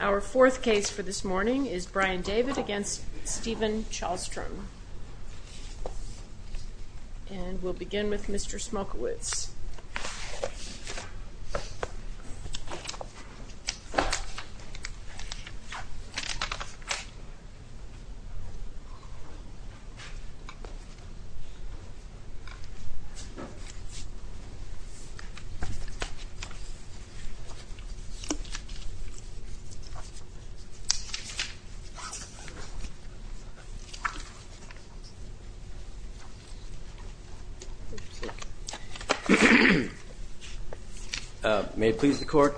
Our fourth case for this morning is Brian David v. Stephen Chalstrom And we'll begin with Mr. Smokowitz May it please the court,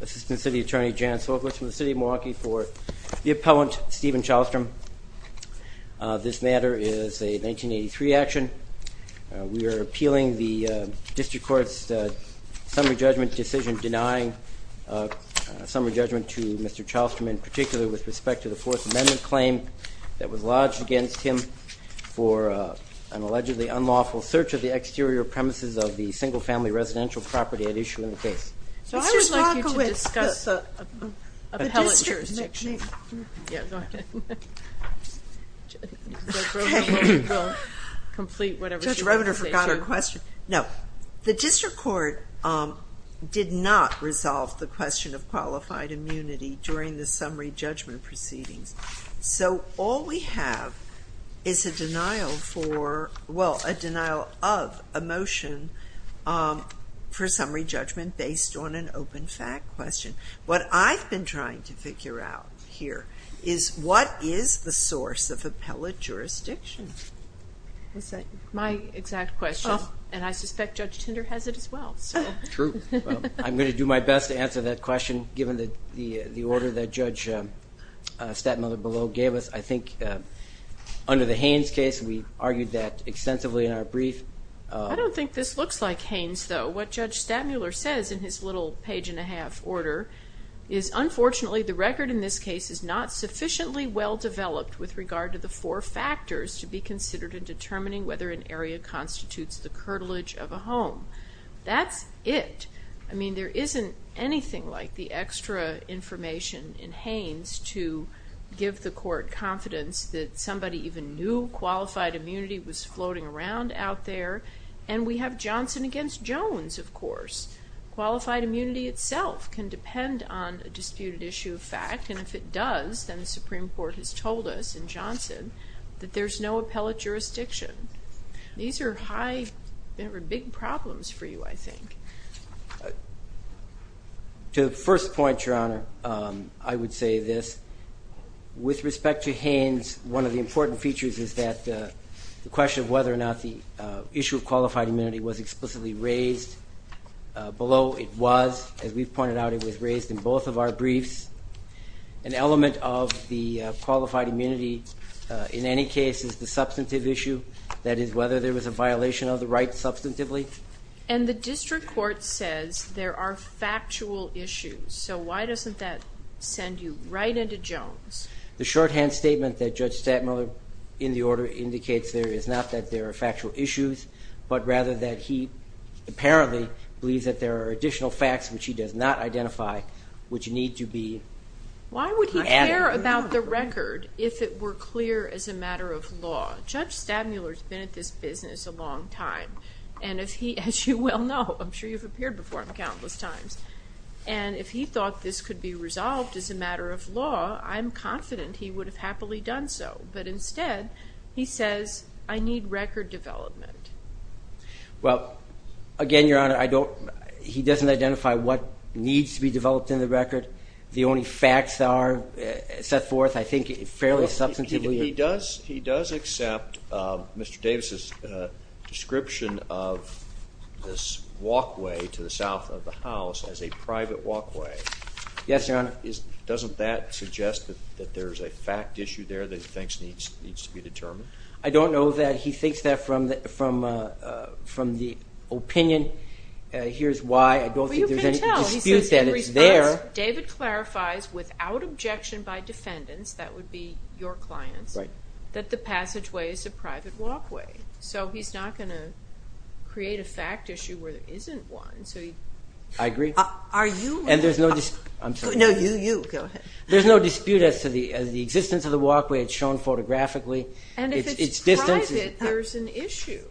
Assistant City Attorney Jan Smokowitz from the City of Milwaukee for the appellant Stephen Chalstrom This matter is a 1983 action. We are appealing the District Court's summary judgment decision denying summary judgment to Mr. Chalstrom in particular with respect to the Fourth Amendment claim that was lodged against him for an allegedly unlawful search of the exterior premises of the single family residential property at issue in the case Mr. Smokowitz, the District Court did not resolve the question of qualified immunity during the summary judgment proceedings So all we have is a denial of a motion for summary judgment based on an open fact question. What I've been trying to figure out here is what is the source of appellate jurisdiction? My exact question, and I suspect Judge Tinder has it as well. True. I'm going to do my best to answer that question given the order that Judge Stattmuller below gave us. I think under the Haynes case we argued that extensively in our brief. I don't think this looks like Haynes though. What Judge Stattmuller says in his little page and a half order is unfortunately the record in this case is not sufficiently well developed with regard to the four factors to be considered in determining whether an area constitutes the curtilage of a home. That's it. I mean there isn't anything like the extra information in Haynes to give the court confidence that somebody even knew qualified immunity was floating around out there and we have Johnson against Jones of course. Qualified immunity itself can depend on a disputed issue of fact and if it does then the Supreme Court has told us in Johnson that there's no appellate jurisdiction. These are big problems for you I think. To the first point, Your Honor, I would say this. With respect to Haynes, one of the important features is that the question of whether or not the issue of qualified immunity was explicitly raised. Below it was. As we pointed out it was raised in both of our briefs. An element of the qualified immunity in any case is the substantive issue. That is whether there was a violation of the right substantively. And the district court says there are factual issues. So why doesn't that send you right into Jones? The shorthand statement that Judge Stadmuller in the order indicates there is not that there are factual issues but rather that he apparently believes that there are additional facts which he does not identify which need to be added. Well again, Your Honor, he doesn't identify what needs to be developed in the record. The only facts are the facts that are there. He does accept Mr. Davis' description of this walkway to the south of the house as a private walkway. Doesn't that suggest that there's a fact issue there that he thinks needs to be determined? I don't know that. He thinks that from the opinion. Here's why. I don't think there's any dispute that it's there. David clarifies without objection by defendants, that would be your clients, that the passageway is a private walkway. So he's not going to create a fact issue where there isn't one. I agree. And there's no dispute as to the existence of the walkway. It's shown photographically. And if it's private, there's an issue.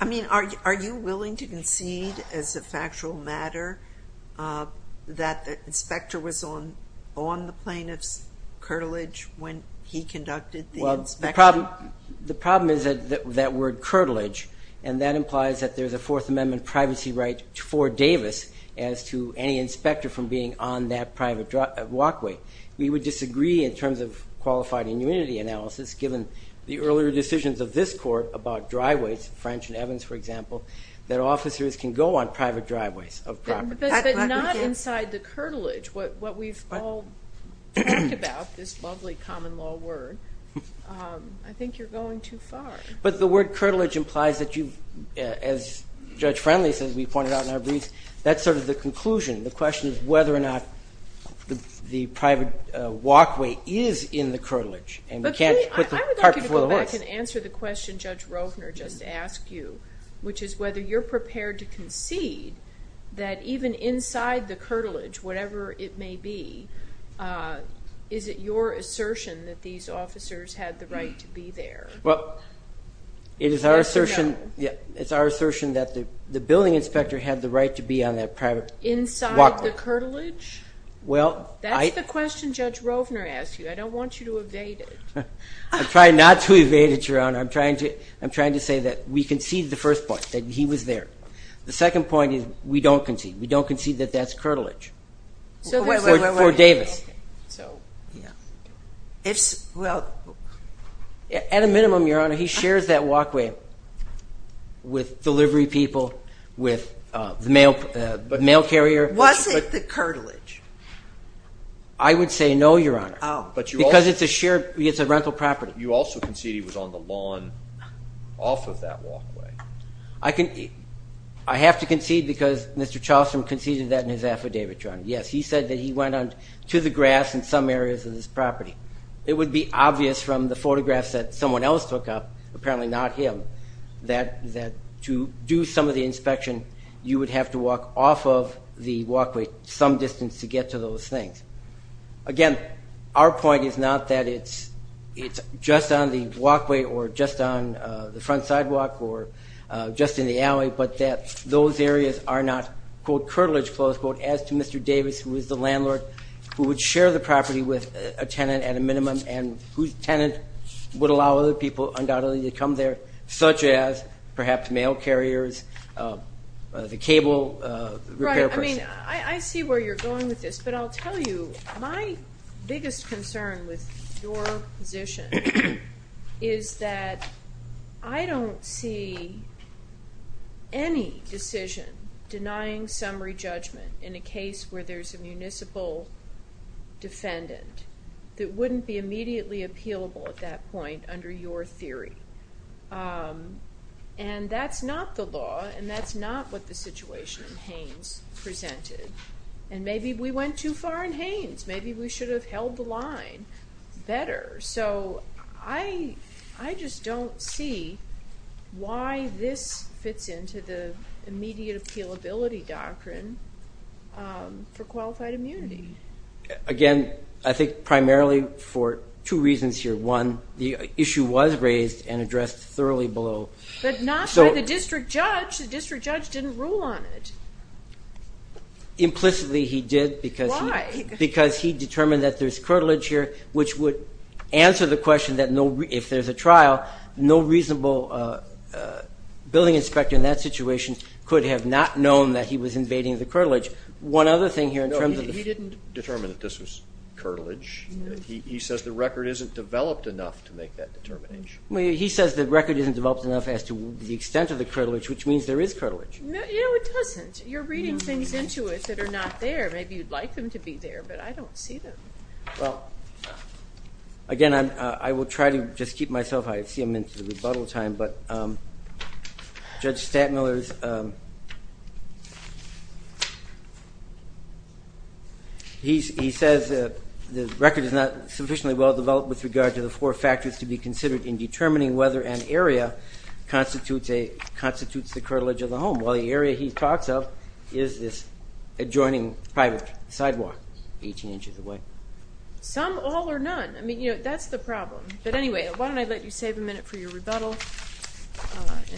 I mean, are you willing to concede as a factual matter that the inspector was on the plaintiff's curtilage when he conducted the inspection? The problem is that word curtilage, and that implies that there's a Fourth Amendment privacy right for Davis as to any inspector from being on that private walkway. We would disagree in terms of qualified immunity analysis, given the earlier decisions of this court about driveways, French and Evans, for example, that officers can go on private driveways of property. But not inside the curtilage, what we've all talked about, this lovely common law word. I think you're going too far. But the word curtilage implies that you, as Judge Friendly says, we pointed out in our briefs, that's sort of the conclusion. The question is whether or not the private walkway is in the curtilage. I would like you to go back and answer the question Judge Rovner just asked you, which is whether you're prepared to concede that even inside the curtilage, whatever it may be, is it your assertion that these officers had the right to be there? It is our assertion that the building inspector had the right to be on that private walkway. Inside the curtilage? That's the question Judge Rovner asked you. I don't want you to evade it. I'm trying not to evade it, Your Honor. I'm trying to say that we concede the first point, that he was there. The second point is we don't concede. We don't concede that that's curtilage. For Davis. At a minimum, Your Honor, he shares that walkway with delivery people, with the mail carrier. Was it the curtilage? I would say no, Your Honor. Oh. Because it's a shared, it's a rental property. You also concede he was on the lawn off of that walkway. I have to concede because Mr. Charleston conceded that in his affidavit, Your Honor. Yes, he said that he went to the grass in some areas of this property. It would be obvious from the photographs that someone else took up, apparently not him, that to do some of the inspection, you would have to walk off of the walkway some distance to get to those things. Again, our point is not that it's just on the walkway or just on the front sidewalk or just in the alley, but that those areas are not, quote, curtilage, close quote, as to Mr. Davis, who is the landlord, who would share the property with a tenant at a minimum and whose tenant would allow other people, undoubtedly, to come there, such as perhaps mail carriers, the cable repair person. I mean, I see where you're going with this, but I'll tell you, my biggest concern with your position is that I don't see any decision denying summary judgment in a case where there's a municipal defendant that wouldn't be immediately appealable at that point under your theory. And that's not the law, and that's not what the situation in Haines presented. And maybe we went too far in Haines. Maybe we should have held the line better. So I just don't see why this fits into the immediate appealability doctrine for qualified immunity. Again, I think primarily for two reasons here. One, the issue was raised and addressed thoroughly below. But not by the district judge. The district judge didn't rule on it. Implicitly, he did. Why? Because he determined that there's curtilage here, which would answer the question that if there's a trial, no reasonable building inspector in that situation could have not known that he was invading the curtilage. No, he didn't determine that this was curtilage. He says the record isn't developed enough to make that determination. He says the record isn't developed enough as to the extent of the curtilage, which means there is curtilage. No, it doesn't. You're reading things into it that are not there. Maybe you'd like them to be there, but I don't see them. Well, again, I will try to just keep myself out. I see I'm into the rebuttal time. But Judge Statmiller, he says the record is not sufficiently well-developed with regard to the four factors to be considered in determining whether an area constitutes the curtilage of the home. Well, the area he talks of is this adjoining private sidewalk 18 inches away. Some, all, or none? I mean, that's the problem. But anyway, why don't I let you save a minute for your rebuttal?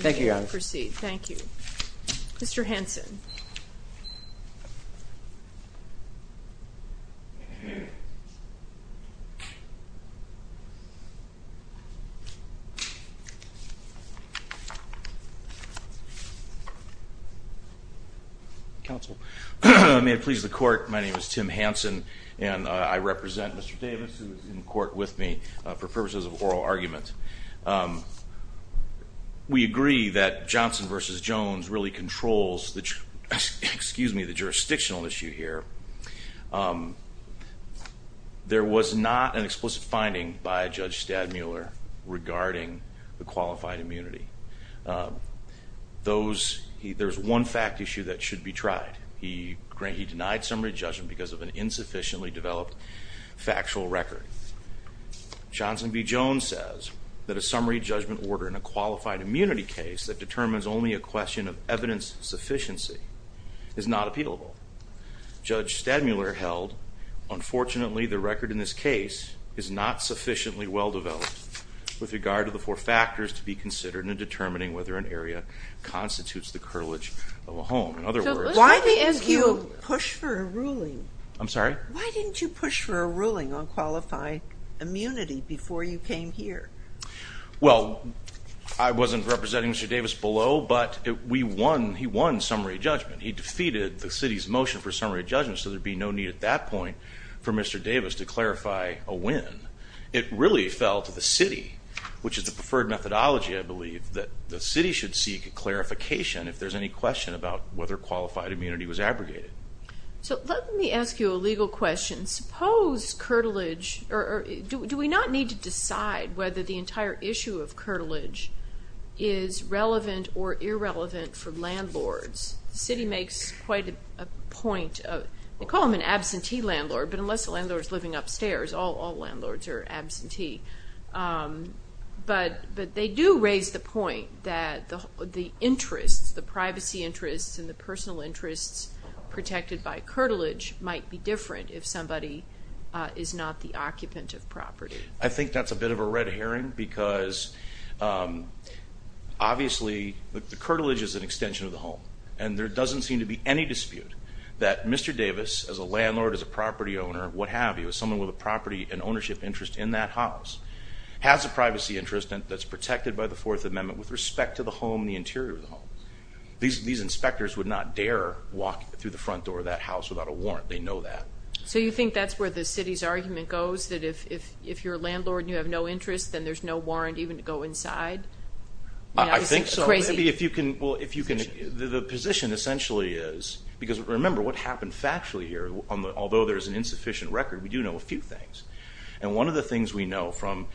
Thank you, Your Honor. Proceed. Thank you. Mr. Hanson. Counsel. May it please the Court, my name is Tim Hanson, and I represent Mr. Davis, who is in court with me, for purposes of oral argument. We agree that Johnson v. Jones really controls the jurisdictional issue here. There was not an explicit finding by Judge Statmiller regarding the qualified immunity. There's one fact issue that should be tried. He denied summary judgment because of an insufficiently developed factual record. Johnson v. Jones says that a summary judgment order in a qualified immunity case that determines only a question of evidence sufficiency is not appealable. Judge Statmiller held, unfortunately, the record in this case is not sufficiently well-developed with regard to the four factors to be considered in determining whether an area constitutes the curtilage of a home. In other words, why didn't you push for a ruling? I'm sorry? Why didn't you push for a ruling on qualified immunity before you came here? Well, I wasn't representing Mr. Davis below, but we won, he won summary judgment. He defeated the city's motion for summary judgment, so there'd be no need at that point for Mr. Davis to clarify a win. It really fell to the city, which is the preferred methodology, I believe, that the city should seek a clarification if there's any question about whether qualified immunity was abrogated. So let me ask you a legal question. Suppose curtilage, or do we not need to decide whether the entire issue of curtilage is relevant or irrelevant for landlords? The city makes quite a point of, they call them an absentee landlord, but unless the landlord's living upstairs, all landlords are absentee. But they do raise the point that the interests, the privacy interests and the personal interests protected by curtilage might be different if somebody is not the occupant of property. I think that's a bit of a red herring because obviously the curtilage is an extension of the home, and there doesn't seem to be any dispute that Mr. Davis, as a landlord, as a property owner, what have you, as someone with a property and ownership interest in that house, has a privacy interest that's protected by the Fourth Amendment with respect to the home, the interior of the home. These inspectors would not dare walk through the front door of that house without a warrant. They know that. So you think that's where the city's argument goes, that if you're a landlord and you have no interest, then there's no warrant even to go inside? I think so. Crazy. The position essentially is, because remember what happened factually here, although there's an insufficient record, we do know a few things. And one of the things we know from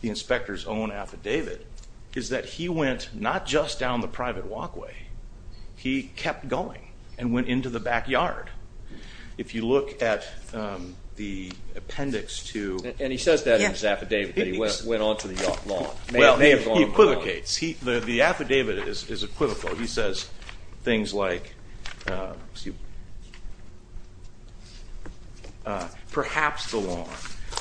the inspector's own affidavit is that he went not just down the private walkway. He kept going and went into the backyard. If you look at the appendix to – And he says that in his affidavit that he went onto the lawn. Well, he equivocates. The affidavit is equivocal. He says things like, excuse me, perhaps the lawn.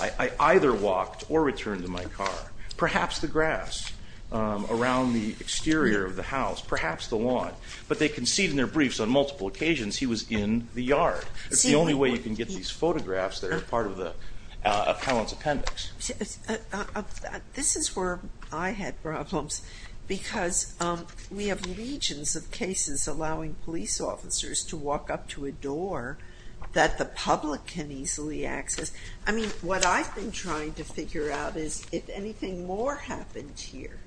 I either walked or returned to my car. Perhaps the grass around the exterior of the house. Perhaps the lawn. But they concede in their briefs on multiple occasions he was in the yard. It's the only way you can get these photographs that are part of the appellant's appendix. This is where I had problems. Because we have legions of cases allowing police officers to walk up to a door that the public can easily access. I mean, what I've been trying to figure out is if anything more happened here.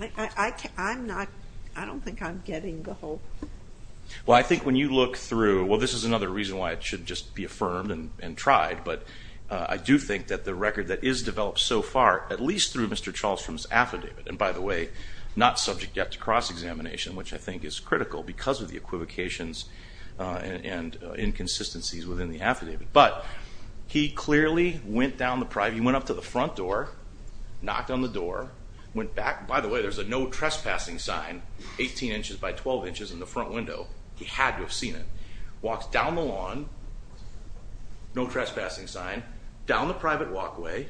I don't think I'm getting the whole – Well, I think when you look through – well, this is another reason why it should just be affirmed and tried. But I do think that the record that is developed so far, at least through Mr. Charlesstrom's affidavit – and by the way, not subject yet to cross-examination, which I think is critical because of the equivocations and inconsistencies within the affidavit. But he clearly went down the – he went up to the front door, knocked on the door, went back. By the way, there's a no trespassing sign 18 inches by 12 inches in the front window. He had to have seen it. Walks down the lawn, no trespassing sign, down the private walkway.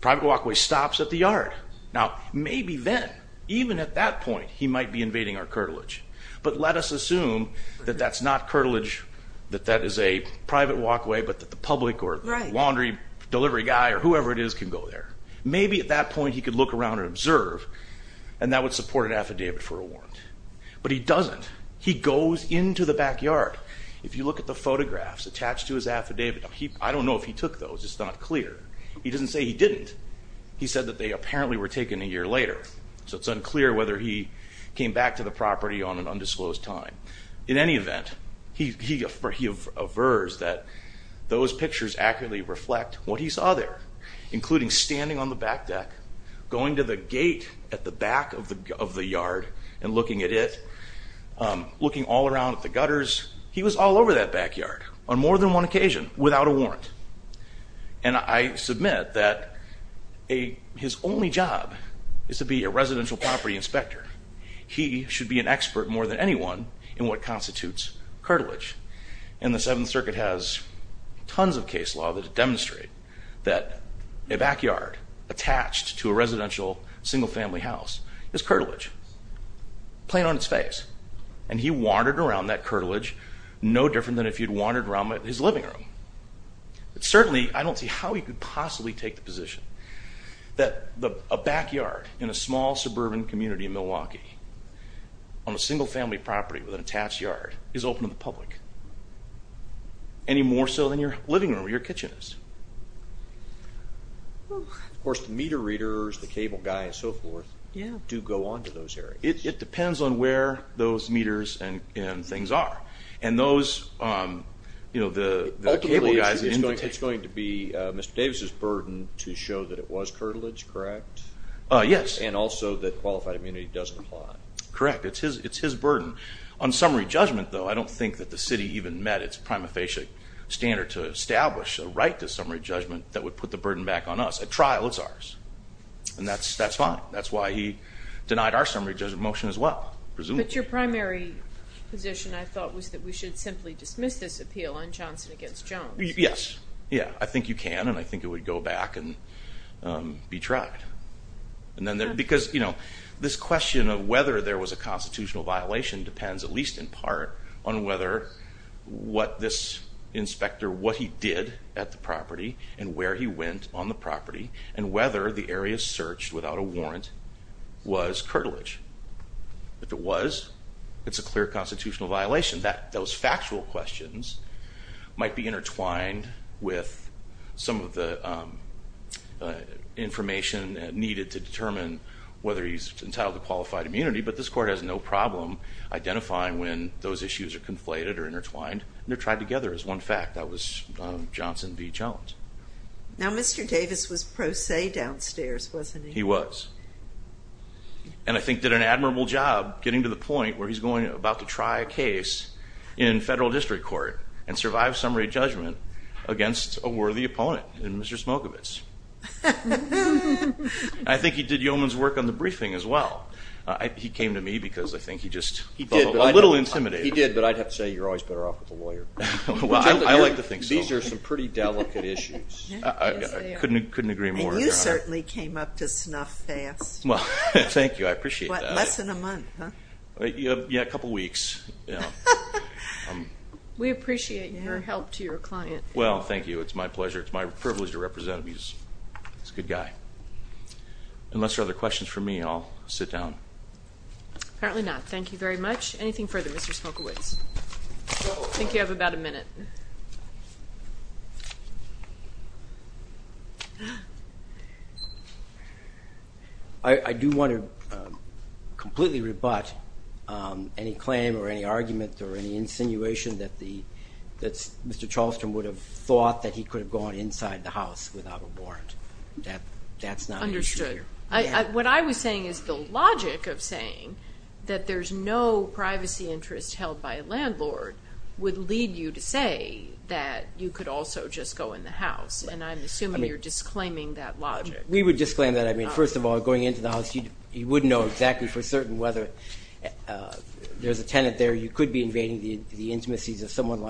Private walkway stops at the yard. Now, maybe then, even at that point, he might be invading our curtilage. But let us assume that that's not curtilage, that that is a private walkway, but that the public or laundry delivery guy or whoever it is can go there. Maybe at that point he could look around and observe, and that would support an affidavit for a warrant. But he doesn't. He goes into the backyard. If you look at the photographs attached to his affidavit, I don't know if he took those. It's not clear. He doesn't say he didn't. He said that they apparently were taken a year later. So it's unclear whether he came back to the property on an undisclosed time. In any event, he avers that those pictures accurately reflect what he saw there, including standing on the back deck, going to the gate at the back of the yard and looking at it, looking all around at the gutters. He was all over that backyard on more than one occasion without a warrant. And I submit that his only job is to be a residential property inspector. He should be an expert more than anyone in what constitutes curtilage. And the Seventh Circuit has tons of case law that demonstrate that a backyard attached to a residential single-family house is curtilage, plain on its face. And he wandered around that curtilage no different than if he had wandered around his living room. But certainly I don't see how he could possibly take the position that a backyard in a small suburban community in Milwaukee on a single-family property with an attached yard is open to the public, any more so than your living room or your kitchen is. Of course, the meter readers, the cable guy, and so forth, do go on to those areas. It depends on where those meters and things are. And those, you know, the cable guy is an invitation. Ultimately, it's going to be Mr. Davis' burden to show that it was curtilage, correct? Yes. And also that qualified immunity doesn't apply. Correct. It's his burden. On summary judgment, though, I don't think that the city even met its prima facie standard to establish a right to summary judgment that would put the burden back on us. At trial, it's ours. And that's fine. That's why he denied our summary judgment motion as well, presumably. But your primary position, I thought, was that we should simply dismiss this appeal on Johnson v. Jones. Yes. Yeah. I think you can, and I think it would go back and be tried. Because, you know, this question of whether there was a constitutional violation depends, at least in part, on whether what this inspector, what he did at the property, and where he went on the property, and whether the area searched without a warrant was curtilage. If it was, it's a clear constitutional violation. Those factual questions might be intertwined with some of the information needed to determine whether he's entitled to qualified immunity. But this court has no problem identifying when those issues are conflated or intertwined. They're tried together as one fact. That was Johnson v. Jones. Now, Mr. Davis was pro se downstairs, wasn't he? He was. And I think did an admirable job getting to the point where he's going about to try a case in federal district court and survive summary judgment against a worthy opponent in Mr. Smokovitz. I think he did Yeoman's work on the briefing as well. He came to me because I think he just felt a little intimidated. He did, but I'd have to say you're always better off with a lawyer. I like to think so. These are some pretty delicate issues. I couldn't agree more. You certainly came up to snuff fast. Well, thank you. I appreciate that. What, less than a month, huh? Yeah, a couple weeks. We appreciate your help to your client. Well, thank you. It's my pleasure. It's my privilege to represent him. He's a good guy. Unless there are other questions for me, I'll sit down. Apparently not. Thank you very much. Anything further, Mr. Smokovitz? I think you have about a minute. I do want to completely rebut any claim or any argument or any insinuation that Mr. Charleston would have thought that he could have gone inside the house without a warrant. That's not an issue here. Understood. What I was saying is the logic of saying that there's no privacy interest held by a landlord would lead you to say that you could also just go in the house, and I'm assuming you're disclaiming that logic. We would disclaim that. I mean, first of all, going into the house, you would know exactly for certain whether there's a tenant there. You could be invading the intimacies of someone's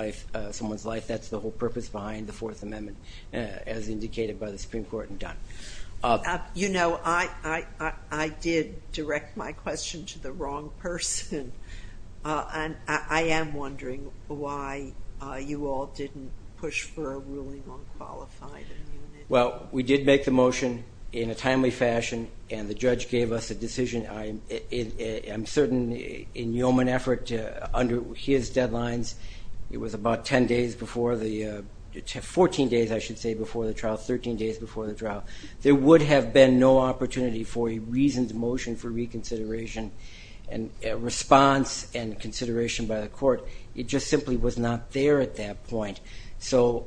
life. That's the whole purpose behind the Fourth Amendment, as indicated by the Supreme Court and done. You know, I did direct my question to the wrong person, and I am wondering why you all didn't push for a ruling on qualified immunity. Well, we did make the motion in a timely fashion, and the judge gave us a decision. I'm certain in yeoman effort, under his deadlines, it was about 10 days before the 14 days, I should say, before the trial, 13 days before the trial. There would have been no opportunity for a reasons motion for reconsideration and response and consideration by the court. It just simply was not there at that point. So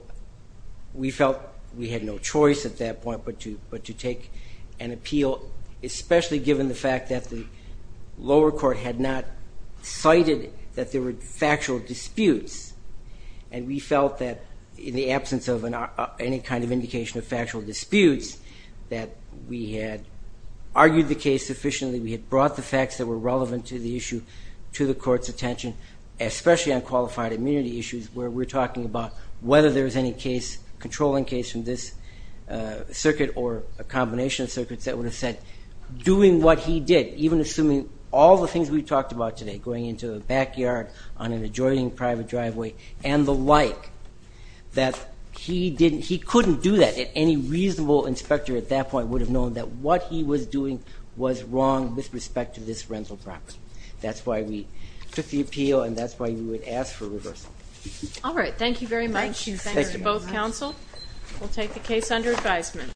we felt we had no choice at that point but to take an appeal, especially given the fact that the lower court had not cited that there were factual disputes, and we felt that, in the absence of any kind of indication of factual disputes, that we had argued the case sufficiently, we had brought the facts that were relevant to the issue to the court's attention, especially on qualified immunity issues where we're talking about whether there was any case, controlling case from this circuit or a combination of circuits that would have said, doing what he did, even assuming all the things we talked about today, going into a backyard on an adjoining private driveway and the like, that he couldn't do that. Any reasonable inspector at that point would have known that what he was doing was wrong with respect to this rental property. That's why we took the appeal, and that's why we would ask for reversal. All right. Thank you very much. Thanks to both counsel. We'll take the case under advisement.